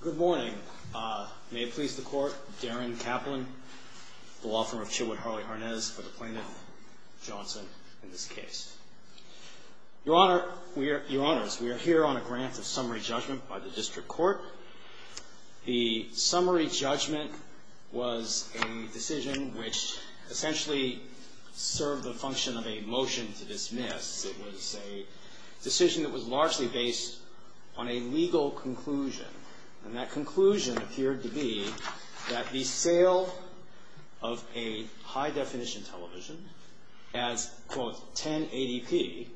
Good morning. May it please the Court, Darren Kaplan, the law firm of Chilwood Harley-Harness for the plaintiff, Johnson, in this case. Your Honor, we are, Your Honors, we are here on a grant of summary judgment by the District Court. The summary judgment was a decision which essentially served the function of a motion to dismiss. It was a decision that was largely based on a legal conclusion. And that conclusion appeared to be that the sale of a high-definition television as, quote, 1080p,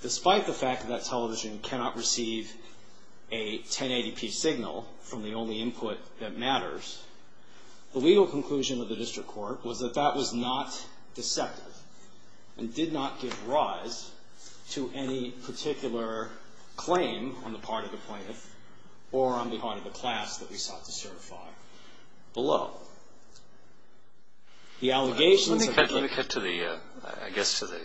despite the fact that that television cannot receive a 1080p signal from the only input that matters, the legal conclusion of the District Court was that that was not deceptive and did not give rise to any particular claim on the part of the plaintiff or on the part of the class that we sought to certify below. The allegations of the... Let me cut to the, I guess to the,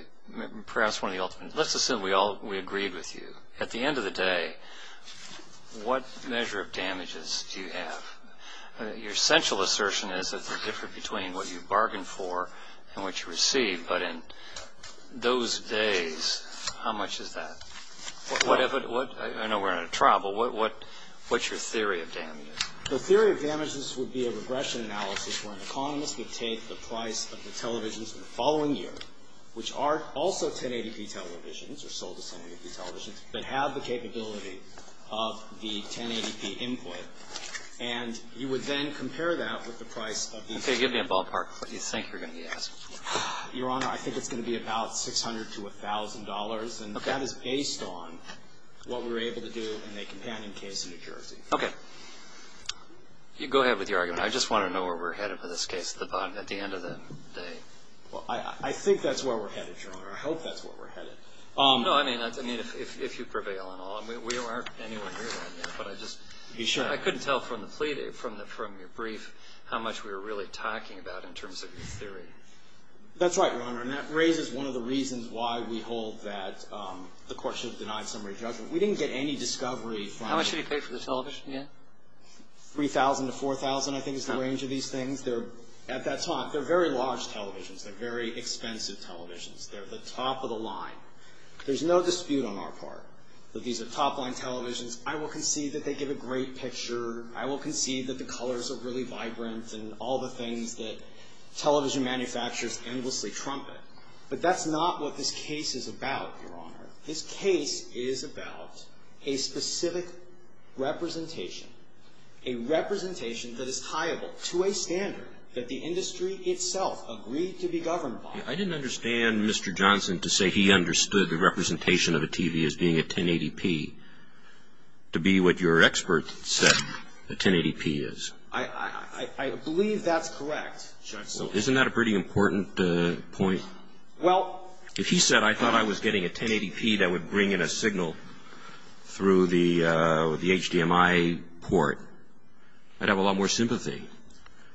perhaps one of the ultimate, let's assume we all, we agreed with you. At the end of the day, what measure of damages do you have? Your central assertion is that they're different between what you bargained for and what you received. But in those days, how much is that? I know we're in a trial, but what's your theory of damages? The theory of damages would be a regression analysis where an economist would take the price of the televisions the following year, which are also 1080p televisions or sold as 1080p televisions, that have the capability of the 1080p input. And you would then compare that with the price of the... Okay. Give me a ballpark of what you think you're going to be asking for. Your Honor, I think it's going to be about $600 to $1,000. Okay. And that is based on what we were able to do in a companion case in New Jersey. Okay. Go ahead with your argument. I just want to know where we're headed for this case at the end of the day. Well, I think that's where we're headed, Your Honor. I hope that's where we're headed. No, I mean, if you prevail and all. We aren't anywhere near that yet, but I just... Be sure. I couldn't tell from your brief how much we were really talking about in terms of your theory. That's right, Your Honor. And that raises one of the reasons why we hold that the court should have denied summary judgment. We didn't get any discovery from... How much did he pay for the television? $3,000 to $4,000, I think, is the range of these things. At that time, they're very large televisions. They're very expensive televisions. They're the top of the line. There's no dispute on our part that these are top-line televisions. I will concede that they give a great picture. I will concede that the colors are really vibrant and all the things that television manufacturers endlessly trumpet. But that's not what this case is about, Your Honor. This case is about a specific representation, a representation that is tiable to a standard that the industry itself agreed to be governed by. I didn't understand Mr. Johnson to say he understood the representation of a TV as being a 1080p to be what your expert said a 1080p is. I believe that's correct, Justice. Isn't that a pretty important point? Well... If he said, I thought I was getting a 1080p that would bring in a signal through the HDMI port, I'd have a lot more sympathy.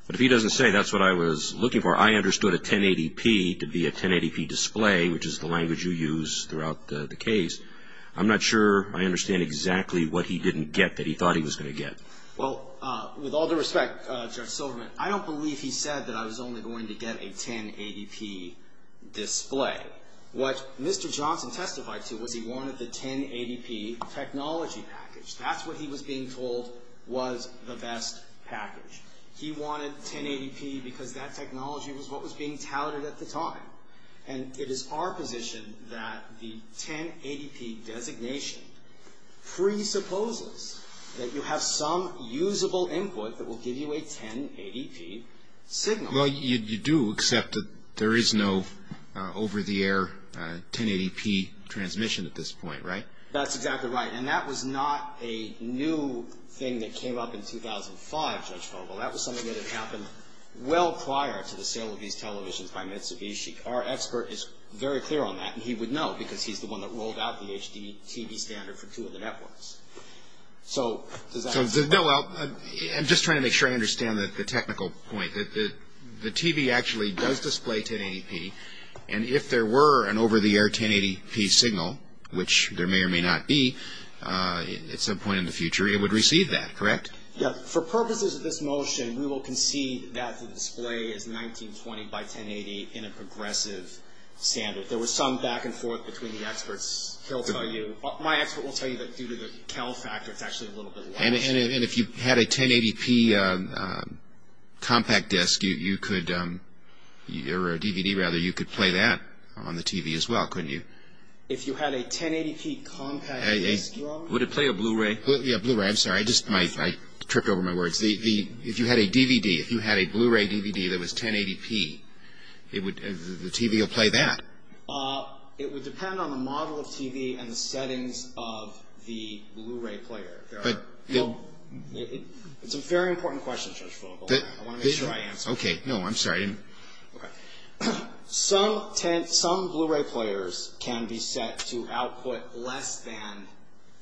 But if he doesn't say that's what I was looking for, I understood a 1080p to be a 1080p display, which is the language you use throughout the case, I'm not sure I understand exactly what he didn't get that he thought he was going to get. Well, with all due respect, Judge Silverman, I don't believe he said that I was only going to get a 1080p display. What Mr. Johnson testified to was he wanted the 1080p technology package. That's what he was being told was the best package. He wanted 1080p because that technology was what was being touted at the time. And it is our position that the 1080p designation presupposes that you have some usable input that will give you a 1080p signal. Well, you do accept that there is no over-the-air 1080p transmission at this point, right? That's exactly right. And that was not a new thing that came up in 2005, Judge Vogel. That was something that had happened well prior to the sale of these televisions by Mitsubishi. Our expert is very clear on that, and he would know because he's the one that rolled out the HDTV standard for two of the networks. So does that answer your question? No, well, I'm just trying to make sure I understand the technical point. The TV actually does display 1080p, and if there were an over-the-air 1080p signal, which there may or may not be, at some point in the future it would receive that, correct? Yeah. For purposes of this motion, we will concede that the display is 1920 by 1080 in a progressive standard. There was some back and forth between the experts. My expert will tell you that due to the Cal factor, it's actually a little bit larger. And if you had a 1080p compact disc, or a DVD, rather, you could play that on the TV as well, couldn't you? If you had a 1080p compact disc? Would it play a Blu-ray? Yeah, Blu-ray. I'm sorry. I tripped over my words. If you had a DVD, if you had a Blu-ray DVD that was 1080p, the TV would play that. It would depend on the model of TV and the settings of the Blu-ray player. It's a very important question, Judge Vogel. I want to make sure I answer it. Okay. No, I'm sorry. Some Blu-ray players can be set to output less than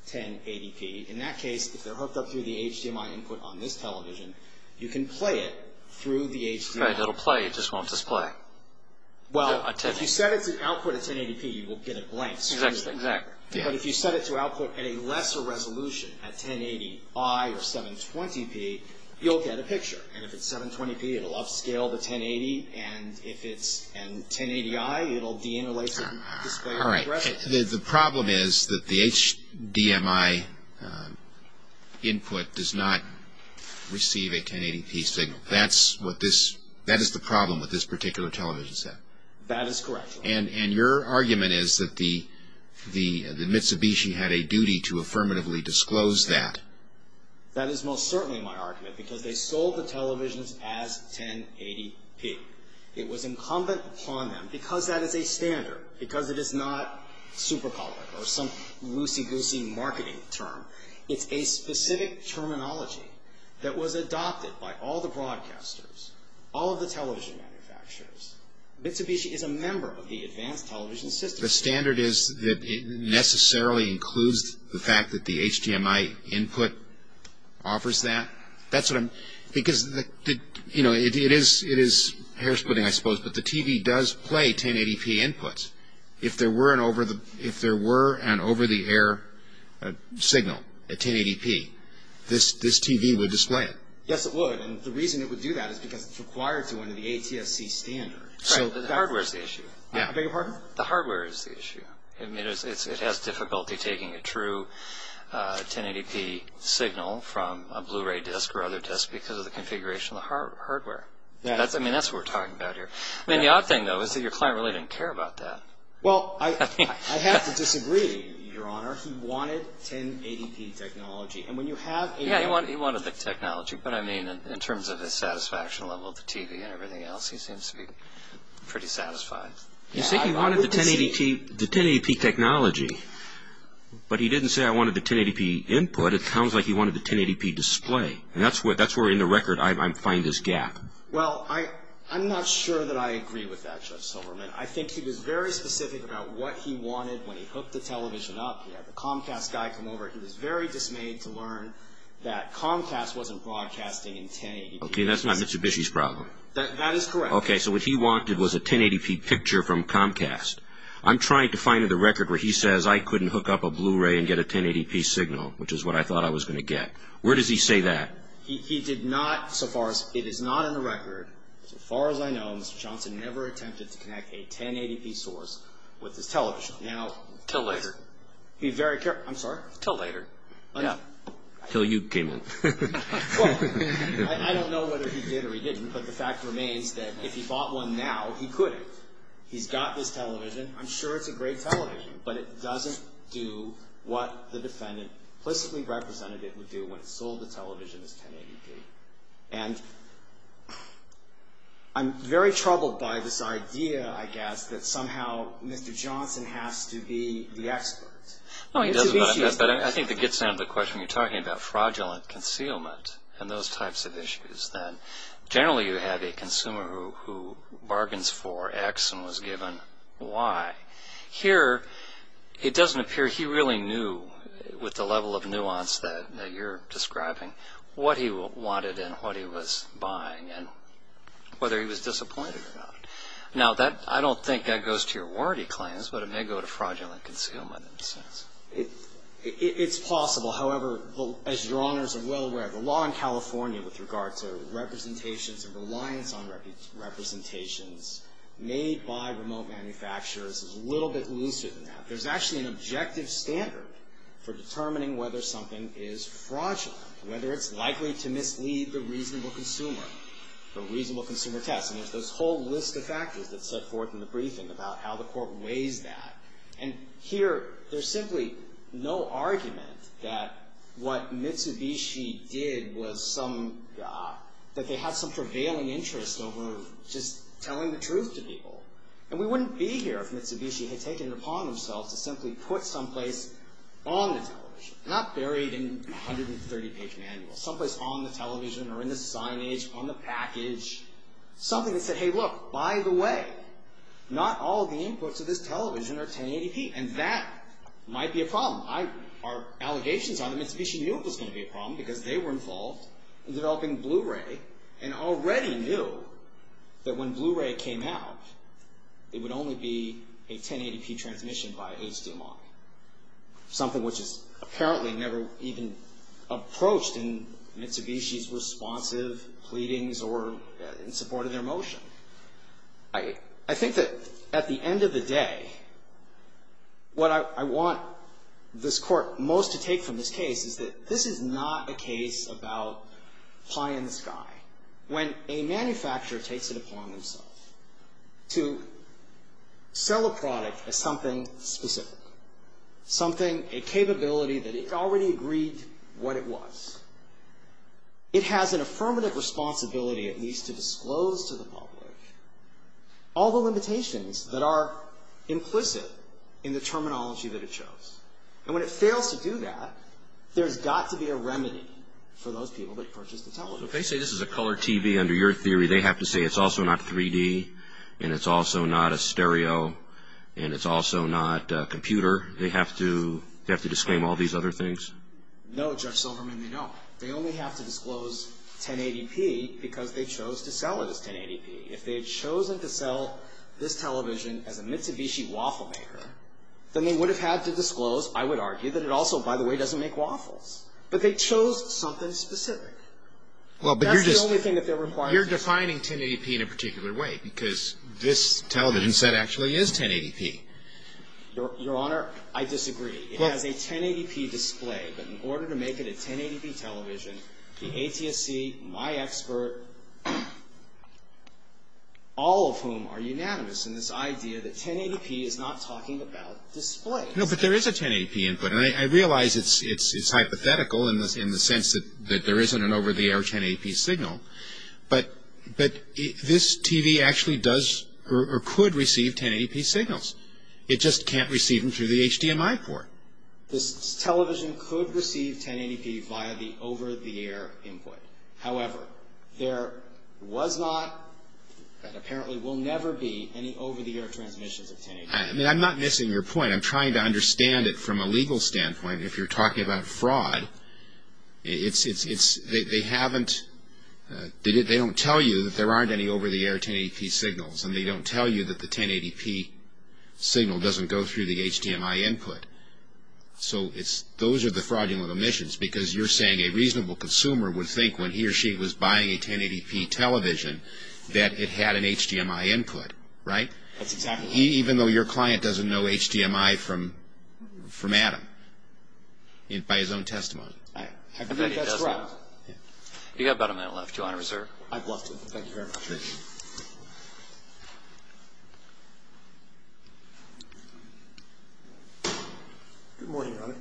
1080p. In that case, if they're hooked up through the HDMI input on this television, you can play it through the HDMI. It'll play. It just won't display. Well, if you set it to output at 1080p, you will get it blank. Exactly. Exactly. But if you set it to output at a lesser resolution, at 1080i or 720p, you'll get a picture. And if it's 720p, it'll upscale the 1080. And if it's 1080i, it'll de-interlace it and display it regressively. All right. The problem is that the HDMI input does not receive a 1080p signal. That is the problem with this particular television set. That is correct. And your argument is that Mitsubishi had a duty to affirmatively disclose that. That is most certainly my argument, because they sold the televisions as 1080p. It was incumbent upon them, because that is a standard, because it is not super-public or some loosey-goosey marketing term. It's a specific terminology that was adopted by all the broadcasters, all of the television manufacturers. Mitsubishi is a member of the advanced television system. The standard is that it necessarily includes the fact that the HDMI input offers that? Because it is hair-splitting, I suppose, but the TV does play 1080p inputs. If there were an over-the-air signal at 1080p, this TV would display it. Yes, it would, and the reason it would do that is because it's required to under the ATSC standard. The hardware is the issue. I beg your pardon? The hardware is the issue. It has difficulty taking a true 1080p signal from a Blu-ray disc or other disc because of the configuration of the hardware. That's what we're talking about here. The odd thing, though, is that your client really didn't care about that. Well, I have to disagree, Your Honor. He wanted 1080p technology. Yes, he wanted the technology, but, I mean, in terms of the satisfaction level of the TV and everything else, he seems to be pretty satisfied. You say he wanted the 1080p technology, but he didn't say, I wanted the 1080p input. It sounds like he wanted the 1080p display, and that's where, in the record, I find his gap. Well, I'm not sure that I agree with that, Judge Silverman. I think he was very specific about what he wanted when he hooked the television up. He had the Comcast guy come over. He was very dismayed to learn that Comcast wasn't broadcasting in 1080p. Okay, that's not Mr. Bishy's problem. That is correct. Okay, so what he wanted was a 1080p picture from Comcast. I'm trying to find the record where he says, I couldn't hook up a Blu-ray and get a 1080p signal, which is what I thought I was going to get. Where does he say that? He did not, so far as, it is not in the record. So far as I know, Mr. Johnson never attempted to connect a 1080p source with his television. Till later. I'm sorry? Till later. Till you came in. Well, I don't know whether he did or he didn't, but the fact remains that if he bought one now, he couldn't. He's got this television. I'm sure it's a great television, but it doesn't do what the defendant implicitly represented it would do when it sold the television as 1080p. And I'm very troubled by this idea, I guess, that somehow Mr. Johnson has to be the expert. No, he doesn't, but I think it gets down to the question you're talking about, fraudulent concealment and those types of issues. Generally, you have a consumer who bargains for X and was given Y. Here, it doesn't appear he really knew, with the level of nuance that you're describing, what he wanted and what he was buying and whether he was disappointed or not. Now, I don't think that goes to your warranty claims, but it may go to fraudulent concealment in a sense. It's possible. Well, however, as Your Honors are well aware, the law in California with regard to representations and reliance on representations made by remote manufacturers is a little bit looser than that. There's actually an objective standard for determining whether something is fraudulent, whether it's likely to mislead the reasonable consumer, the reasonable consumer test. And there's this whole list of factors that's set forth in the briefing about how the Court weighs that. And here, there's simply no argument that what Mitsubishi did was some – that they had some prevailing interest over just telling the truth to people. And we wouldn't be here if Mitsubishi had taken it upon themselves to simply put someplace on the television, not buried in 130-page manuals, someplace on the television or in the signage, on the package, something that said, hey, look, by the way, not all the inputs of this television are 1080p. And that might be a problem. Our allegations are that Mitsubishi knew it was going to be a problem because they were involved in developing Blu-ray and already knew that when Blu-ray came out, it would only be a 1080p transmission by HDMI, something which is apparently never even approached in Mitsubishi's responsive pleadings or in support of their motion. I think that at the end of the day, what I want this Court most to take from this case is that this is not a case about pie in the sky. When a manufacturer takes it upon themselves to sell a product as something specific, something, a capability that it already agreed what it was, it has an affirmative responsibility at least to disclose to the public all the limitations that are implicit in the terminology that it chose. And when it fails to do that, there's got to be a remedy for those people that purchase the television. So if they say this is a color TV, under your theory, they have to say it's also not 3D and it's also not a stereo and it's also not a computer? They have to disclaim all these other things? No, Judge Silverman, they don't. They only have to disclose 1080p because they chose to sell it as 1080p. If they had chosen to sell this television as a Mitsubishi waffle maker, then they would have had to disclose, I would argue, that it also, by the way, doesn't make waffles. But they chose something specific. That's the only thing that they're required to do. You're defining 1080p in a particular way because this television set actually is 1080p. Your Honor, I disagree. It has a 1080p display. But in order to make it a 1080p television, the ATSC, my expert, all of whom are unanimous in this idea that 1080p is not talking about display. No, but there is a 1080p input. And I realize it's hypothetical in the sense that there isn't an over-the-air 1080p signal. But this TV actually does or could receive 1080p signals. It just can't receive them through the HDMI port. This television could receive 1080p via the over-the-air input. However, there was not and apparently will never be any over-the-air transmissions of 1080p. I'm not missing your point. I'm trying to understand it from a legal standpoint. If you're talking about fraud, they don't tell you that there aren't any over-the-air 1080p signals. And they don't tell you that the 1080p signal doesn't go through the HDMI input. So those are the fraudulent omissions. Because you're saying a reasonable consumer would think when he or she was buying a 1080p television that it had an HDMI input, right? That's exactly right. Even though your client doesn't know HDMI from Adam, by his own testimony. I think that's right. You've got about a minute left. Do you want to reserve? I'd love to. Thank you very much. Thank you. Good morning, Your Honor.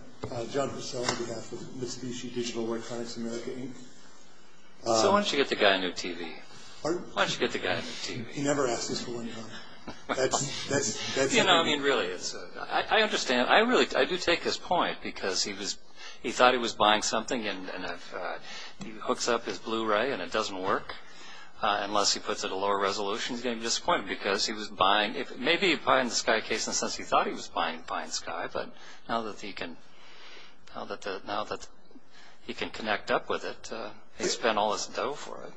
John Hussel on behalf of Mitsubishi Digital Electronics America, Inc. So why don't you get the guy a new TV? Why don't you get the guy a new TV? He never asks us for one, Your Honor. You know, I mean, really, I understand. I do take his point because he thought he was buying something and he hooks up his Blu-ray and it doesn't work. Unless he puts it at a lower resolution, he's going to be disappointed. Because he was buying, maybe he was buying the SkyCase in a sense he thought he was buying Sky, but now that he can connect up with it, he spent all his dough for it.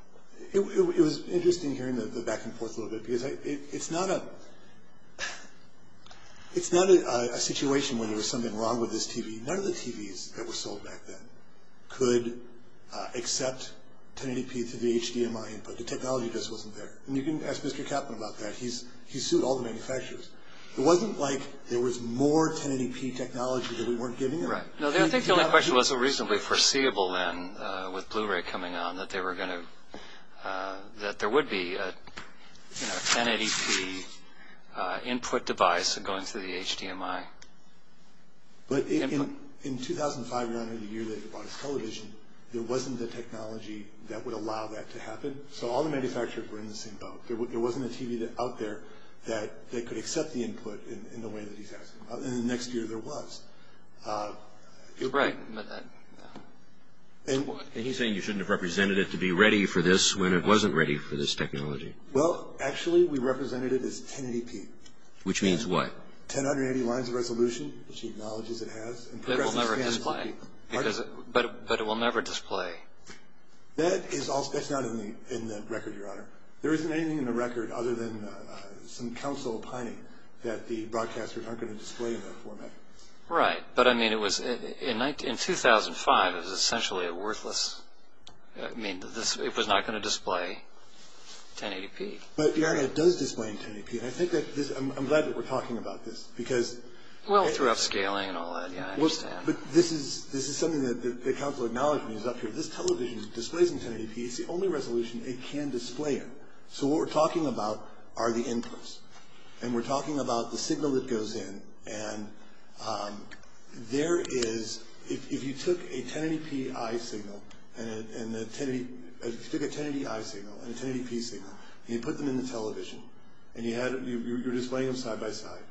It was interesting hearing the back and forth a little bit because it's not a situation where there was something wrong with this TV. None of the TVs that were sold back then could accept 1080p to the HDMI input. The technology just wasn't there. And you can ask Mr. Kaplan about that. He sued all the manufacturers. It wasn't like there was more 1080p technology that we weren't giving them. I think the only question was it was reasonably foreseeable then with Blu-ray coming on that there would be a 1080p input device going through the HDMI. But in 2005, Your Honor, the year that he bought his television, there wasn't the technology that would allow that to happen. So all the manufacturers were in the same boat. There wasn't a TV out there that they could accept the input in the way that he's asking. In the next year, there was. You're right. And he's saying you shouldn't have represented it to be ready for this when it wasn't ready for this technology. Well, actually, we represented it as 1080p. Which means what? 1080 lines of resolution, which he acknowledges it has. But it will never display. That's not in the record, Your Honor. There isn't anything in the record other than some counsel opining that the broadcasters aren't going to display in that format. Right. But, I mean, in 2005, it was essentially worthless. I mean, it was not going to display 1080p. But, Your Honor, it does display in 1080p. I'm glad that we're talking about this. Well, through upscaling and all that, yeah, I understand. But this is something that counsel acknowledges up here. This television displays in 1080p. It's the only resolution it can display in. So what we're talking about are the inputs. And we're talking about the signal that goes in. And there is, if you took a 1080p eye signal and a 1080p signal and you put them in the television and you were displaying them side by side,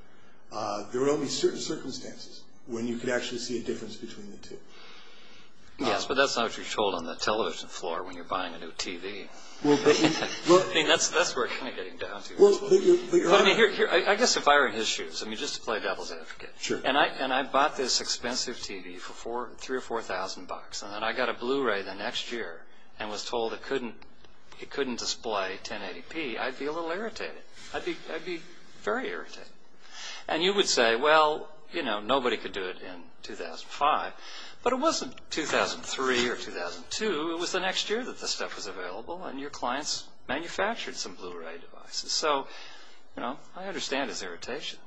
there would only be certain circumstances when you could actually see a difference between the two. Yes, but that's not what you're told on the television floor when you're buying a new TV. I mean, that's where it's kind of getting down to. I guess if I were in his shoes, I mean, just to play devil's advocate, and I bought this expensive TV for 3,000 or 4,000 bucks, and then I got a Blu-ray the next year and was told it couldn't display 1080p, I'd be a little irritated. I'd be very irritated. And you would say, well, you know, nobody could do it in 2005. But it wasn't 2003 or 2002. It was the next year that this stuff was available, and your clients manufactured some Blu-ray devices. So, you know, I understand his irritation,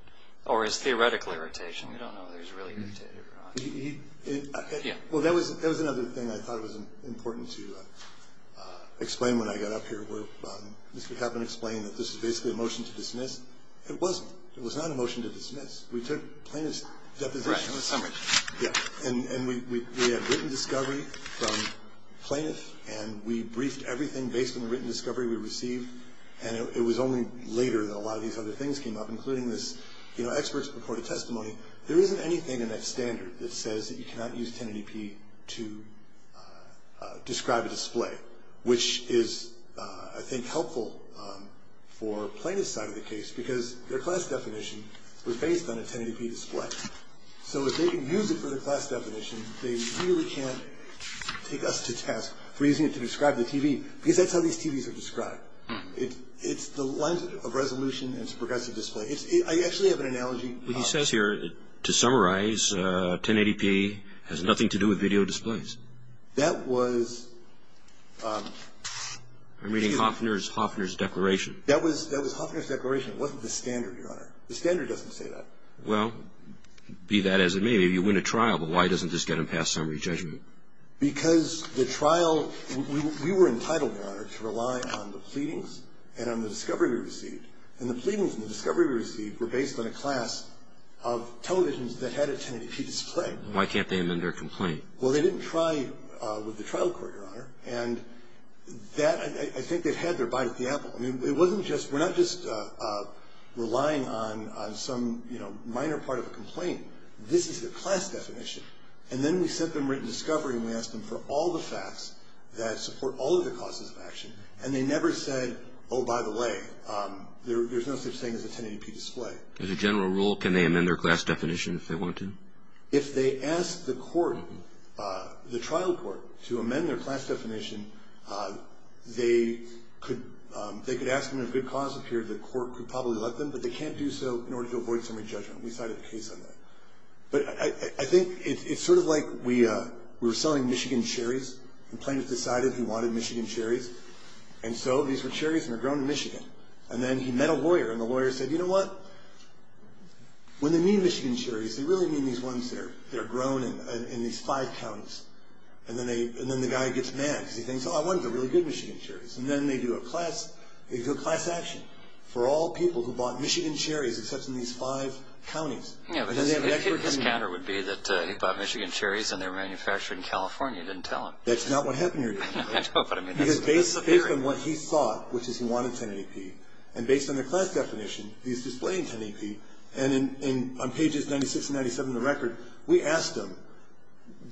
or his theoretical irritation. We don't know if he was really irritated or not. Well, that was another thing I thought was important to explain when I got up here. Mr. Kaplan explained that this was basically a motion to dismiss. It wasn't. It was not a motion to dismiss. We took plaintiff's deposition. Right. And we briefed everything based on the written discovery we received, and it was only later that a lot of these other things came up, including this expert's purported testimony. There isn't anything in that standard that says that you cannot use 1080p to describe a display, which is, I think, helpful for plaintiff's side of the case, because their class definition was based on a 1080p display. So if they can use it for their class definition, they really can't take us to task for using it to describe the TV, because that's how these TVs are described. It's the lens of resolution and it's a progressive display. I actually have an analogy. He says here, to summarize, 1080p has nothing to do with video displays. That was... I'm reading Hofner's declaration. That was Hofner's declaration. It wasn't the standard, Your Honor. The standard doesn't say that. Well, be that as it may, maybe you win a trial, but why doesn't this get them past summary judgment? Because the trial... We were entitled, Your Honor, to rely on the pleadings and on the discovery we received, and the pleadings and the discovery we received were based on a class of televisions that had a 1080p display. Why can't they amend their complaint? Well, they didn't try with the trial court, Your Honor, and that, I think, it had their bite at the apple. I mean, it wasn't just... We're not just relying on some minor part of a complaint. This is the class definition. And then we sent them written discovery and we asked them for all the facts that support all of the causes of action, and they never said, oh, by the way, there's no such thing as a 1080p display. As a general rule, can they amend their class definition if they want to? If they ask the court, the trial court, to amend their class definition, they could ask them if good cause appeared, the court could probably let them, but they can't do so in order to avoid summary judgment. We cited a case on that. But I think it's sort of like we were selling Michigan cherries and plaintiff decided he wanted Michigan cherries, and so these were cherries and they're grown in Michigan. And then he met a lawyer, and the lawyer said, you know what? When they mean Michigan cherries, they really mean these ones that are grown in these five counties. And then the guy gets mad because he thinks, oh, I wanted the really good Michigan cherries. And then they do a class action for all people who bought Michigan cherries except in these five counties. Yeah, but his counter would be that he bought Michigan cherries and they were manufactured in California and didn't tell him. That's not what happened here. I know, but I mean, that's the theory. Because based on what he thought, which is he wanted 1080p, and based on the class definition, he's displaying 1080p, and on pages 96 and 97 of the record, we asked him,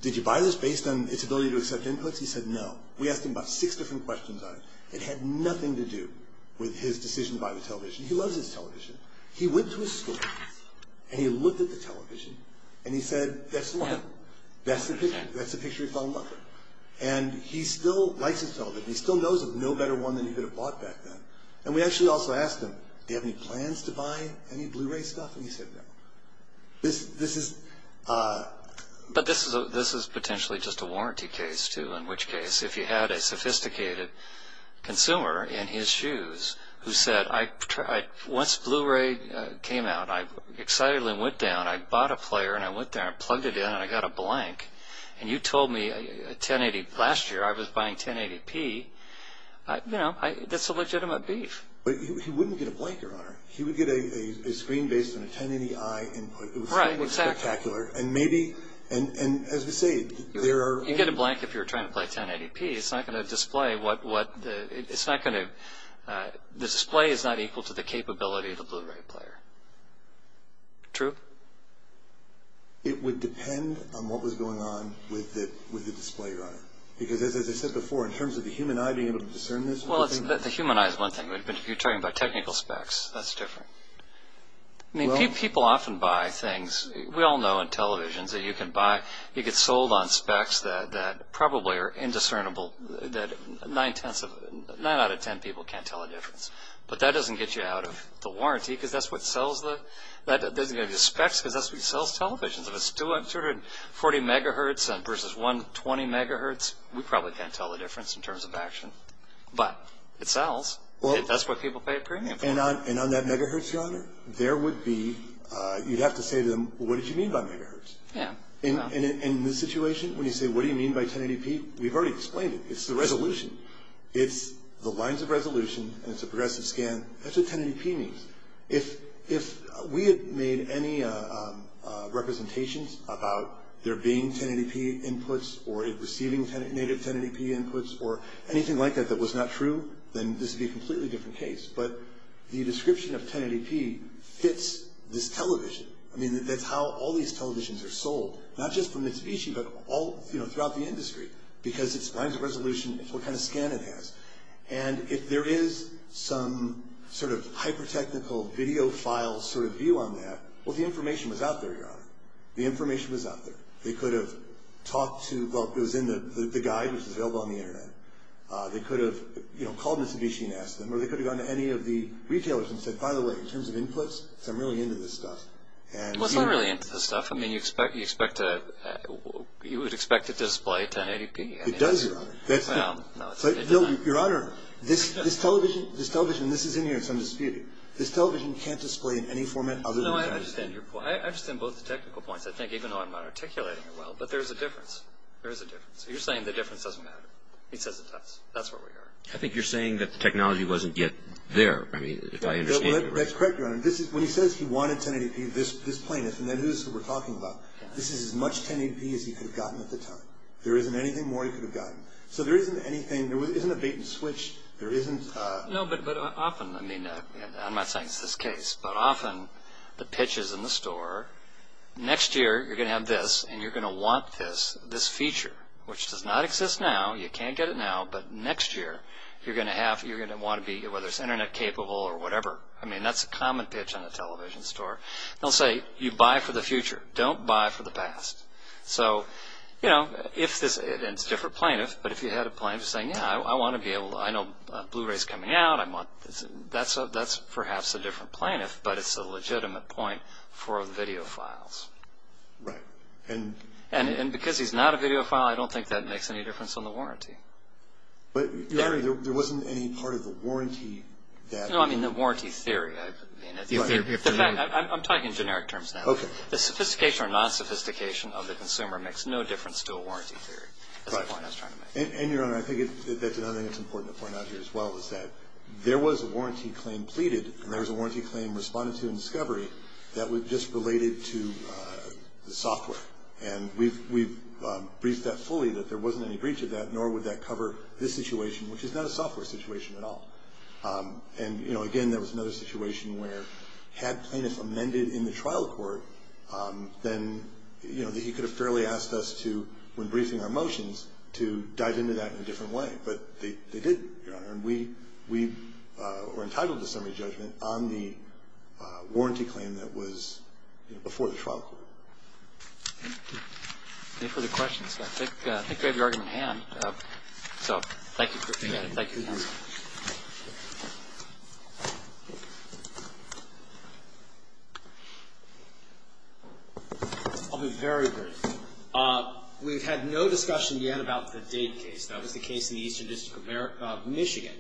did you buy this based on its ability to accept inputs? He said no. We asked him about six different questions on it. It had nothing to do with his decision to buy the television. He loves his television. He went to his school and he looked at the television and he said, that's the one. That's the picture. That's the picture he fell in love with. And he still likes his television. He still knows of no better one than he could have bought back then. And we actually also asked him, do you have any plans to buy any Blu-ray stuff? And he said no. But this is potentially just a warranty case, too, in which case if you had a sophisticated consumer in his shoes who said, once Blu-ray came out, I excitedly went down, I bought a player and I went down and plugged it in and I got a blank, and you told me last year I was buying 1080p, you know, that's a legitimate beef. But he wouldn't get a blank, Your Honor. He would get a screen based on a 1080i input. Right, exactly. It would be spectacular. And maybe, as we say, there are... You get a blank if you're trying to play 1080p. It's not going to display what... It's not going to... The display is not equal to the capability of the Blu-ray player. True? It would depend on what was going on with the display, Your Honor. Because, as I said before, in terms of the human eye being able to discern this... Well, the human eye is one thing. But if you're talking about technical specs, that's different. I mean, people often buy things... We all know in televisions that you can buy... You get sold on specs that probably are indiscernible, that nine out of ten people can't tell the difference. But that doesn't get you out of the warranty because that's what sells the... That doesn't get you specs because that's what sells televisions. If it's 240 megahertz versus 120 megahertz, we probably can't tell the difference in terms of action. But it sells. That's what people pay a premium for. And on that megahertz, Your Honor, there would be... You'd have to say to them, well, what did you mean by megahertz? Yeah. In this situation, when you say, what do you mean by 1080p, we've already explained it. It's the resolution. It's the lines of resolution and it's a progressive scan. That's what 1080p means. If we had made any representations about there being 1080p inputs or receiving native 1080p inputs or anything like that that was not true, then this would be a completely different case. But the description of 1080p fits this television. I mean, that's how all these televisions are sold, not just from Mitsubishi but all throughout the industry because it's lines of resolution. It's what kind of scan it has. And if there is some sort of hyper-technical video file sort of view on that, well, the information was out there, Your Honor. The information was out there. They could have talked to... Well, it was in the guide which is available on the Internet. They could have called Mitsubishi and asked them or they could have gone to any of the retailers and said, by the way, in terms of inputs, I'm really into this stuff. Well, it's not really into this stuff. I mean, you would expect it to display 1080p. It does, Your Honor. Well, no. Your Honor, this television, and this is in here, it's undisputed. This television can't display in any format other than that. No, I understand your point. I understand both the technical points, I think, even though I'm not articulating it well. But there is a difference. There is a difference. You're saying the difference doesn't matter. He says it does. That's where we are. I think you're saying that the technology wasn't yet there. I mean, if I understand you correctly. That's correct, Your Honor. When he says he wanted 1080p, this plaintiff, and then who is he talking about, this is as much 1080p as he could have gotten at the time. There isn't anything more he could have gotten. So there isn't anything. There isn't a bait and switch. There isn't. No, but often, I mean, I'm not saying it's this case, but often the pitch is in the store. Next year, you're going to have this, and you're going to want this, this feature, which does not exist now. You can't get it now. But next year, you're going to want to be, whether it's internet capable or whatever. I mean, that's a common pitch on a television store. They'll say, you buy for the future. Don't buy for the past. So, you know, it's a different plaintiff, but if you had a plaintiff saying, yeah, I want to be able to – I know Blu-ray is coming out. That's perhaps a different plaintiff, but it's a legitimate point for videophiles. Right. And because he's not a videophile, I don't think that makes any difference on the warranty. But, Your Honor, there wasn't any part of the warranty that – No, I mean the warranty theory. I'm talking in generic terms now. Okay. The sophistication or non-sophistication of the consumer makes no difference to a warranty theory. Right. That's the point I was trying to make. And, Your Honor, I think that's another thing that's important to point out here as well, is that there was a warranty claim pleaded, and there was a warranty claim responded to in discovery that was just related to the software. And we've briefed that fully, that there wasn't any breach of that, nor would that cover this situation, which is not a software situation at all. And, you know, again, there was another situation where had plaintiffs amended in the trial court, then, you know, he could have fairly asked us to, when briefing our motions, to dive into that in a different way. But they didn't, Your Honor. And we were entitled to summary judgment on the warranty claim that was, you know, before the trial court. Any further questions? I think we have your argument in hand. So thank you for being here. Thank you, counsel. Thank you. I'll be very brief. We've had no discussion yet about the Dade case. That was the case in the Eastern District of Michigan,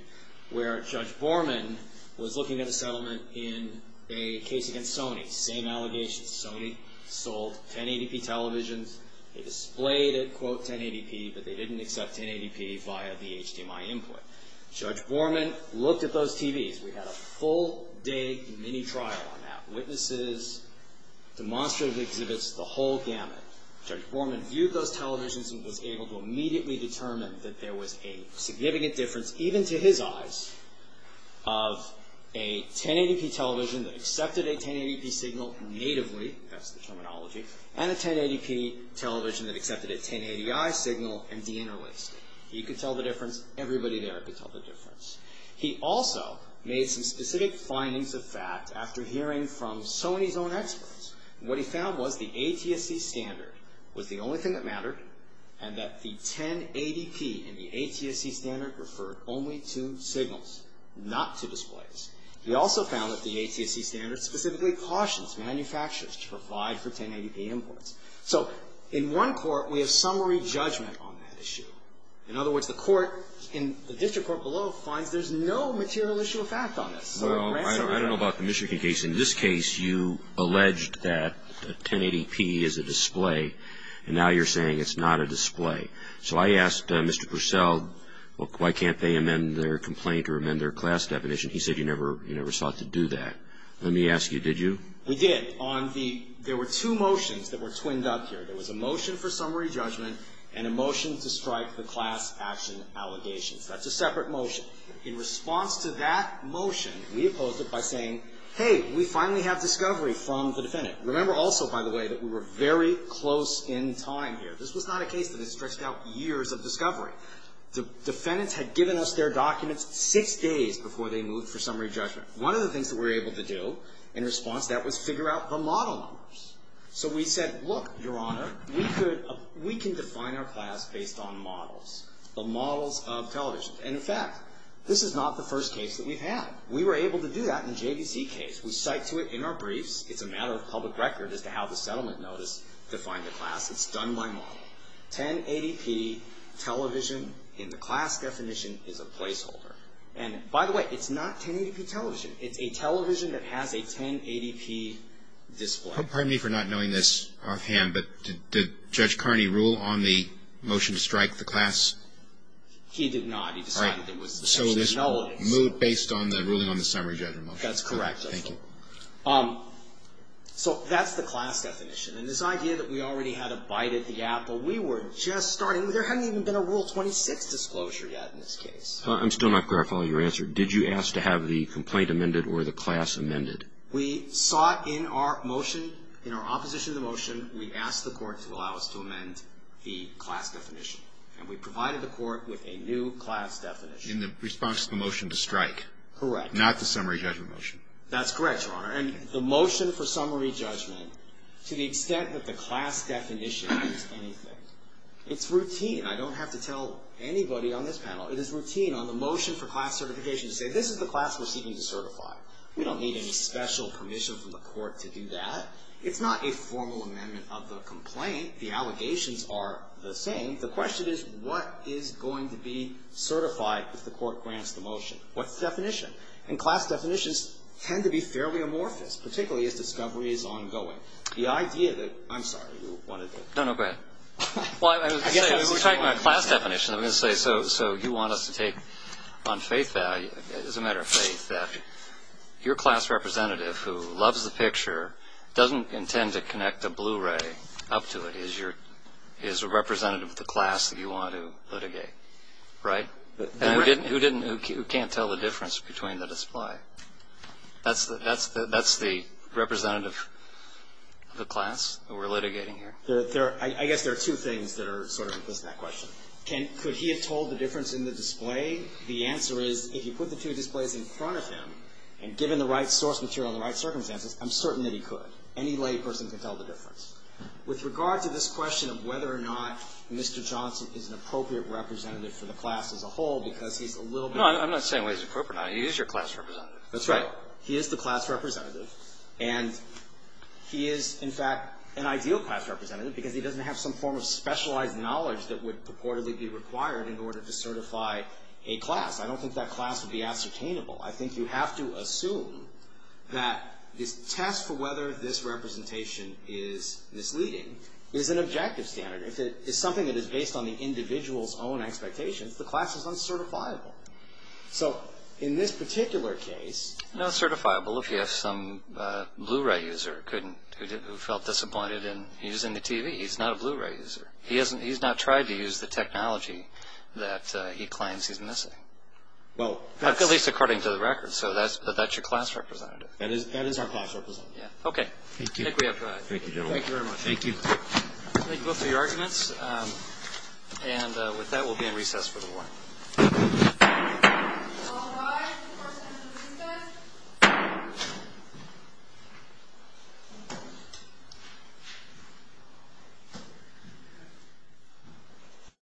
where Judge Borman was looking at a settlement in a case against Sony. Same allegations. Sony sold 1080p televisions. They displayed it, quote, 1080p, but they didn't accept 1080p via the HDMI input. Judge Borman looked at those TVs. We had a full day mini-trial on that. Witnesses demonstratively exhibits the whole gamut. Judge Borman viewed those televisions and was able to immediately determine that there was a significant difference, even to his eyes, of a 1080p television that accepted a 1080p signal natively, that's the terminology, and a 1080p television that accepted a 1080i signal and deinterlaced it. He could tell the difference. Everybody there could tell the difference. He also made some specific findings of fact after hearing from Sony's own experts. What he found was the ATSC standard was the only thing that mattered and that the 1080p and the ATSC standard referred only to signals, not to displays. He also found that the ATSC standard specifically cautions manufacturers to provide for 1080p inputs. So in one court, we have summary judgment on that issue. In other words, the court in the district court below finds there's no material issue of fact on this. Roberts. Well, I don't know about the Michigan case. In this case, you alleged that 1080p is a display, and now you're saying it's not a display. So I asked Mr. Purcell, well, why can't they amend their complaint or amend their class definition? He said he never sought to do that. Let me ask you, did you? We did. There were two motions that were twinned up here. There was a motion for summary judgment and a motion to strike the class action allegations. That's a separate motion. In response to that motion, we opposed it by saying, hey, we finally have discovery from the defendant. Remember also, by the way, that we were very close in time here. This was not a case that had stretched out years of discovery. The defendants had given us their documents six days before they moved for summary judgment. One of the things that we were able to do in response to that was figure out the model numbers. So we said, look, Your Honor, we can define our class based on models, the models of television. And, in fact, this is not the first case that we've had. We were able to do that in the JVC case. We cite to it in our briefs. It's a matter of public record as to how the settlement notice defined the class. It's done by model. 1080p television in the class definition is a placeholder. And, by the way, it's not 1080p television. It's a television that has a 1080p display. Pardon me for not knowing this offhand, but did Judge Carney rule on the motion to strike the class? He did not. All right. So this moved based on the ruling on the summary judgment. That's correct. Thank you. So that's the class definition. And this idea that we already had a bite at the apple, we were just starting. There hadn't even been a Rule 26 disclosure yet in this case. I'm still not clear on your answer. Did you ask to have the complaint amended or the class amended? We sought in our motion, in our opposition to the motion, we asked the court to allow us to amend the class definition. And we provided the court with a new class definition. In the response to the motion to strike. Correct. Not the summary judgment motion. That's correct, Your Honor. And the motion for summary judgment, to the extent that the class definition is anything, it's routine. I don't have to tell anybody on this panel. It is routine on the motion for class certification to say this is the class we're seeking to certify. We don't need any special permission from the court to do that. It's not a formal amendment of the complaint. The allegations are the same. The question is what is going to be certified if the court grants the motion? What's the definition? And class definitions tend to be fairly amorphous, particularly if discovery is ongoing. The idea that, I'm sorry, you wanted to. No, no, go ahead. Well, I was going to say, we're talking about class definitions. I was going to say, so you want us to take on faith value, as a matter of faith, that your class representative who loves the picture, doesn't intend to connect a Blu-ray up to it, is your, is a representative of the class that you want to litigate, right? Who didn't, who can't tell the difference between the display? That's the representative of the class that we're litigating here? I guess there are two things that are sort of implicit in that question. Could he have told the difference in the display? The answer is, if you put the two displays in front of him, and given the right source material and the right circumstances, I'm certain that he could. Any lay person can tell the difference. With regard to this question of whether or not Mr. Johnson is an appropriate representative for the class as a whole, because he's a little bit. No, I'm not saying whether he's appropriate or not. He is your class representative. That's right. He is the class representative, and he is, in fact, an ideal class representative, because he doesn't have some form of specialized knowledge that would purportedly be required in order to certify a class. I don't think that class would be ascertainable. I think you have to assume that this test for whether this representation is misleading is an objective standard. If it is something that is based on the individual's own expectations, the class is uncertifiable. So in this particular case. No, certifiable if you have some Blu-ray user who felt disappointed in using the TV. He's not a Blu-ray user. He's not tried to use the technology that he claims he's missing. Well, that's. At least according to the record. So that's your class representative. That is our class representative. Okay. Thank you. Thank you, gentlemen. Thank you very much. Thank you. Thank you both for your arguments. And with that, we'll be in recess for the morning. All rise for Senate recess.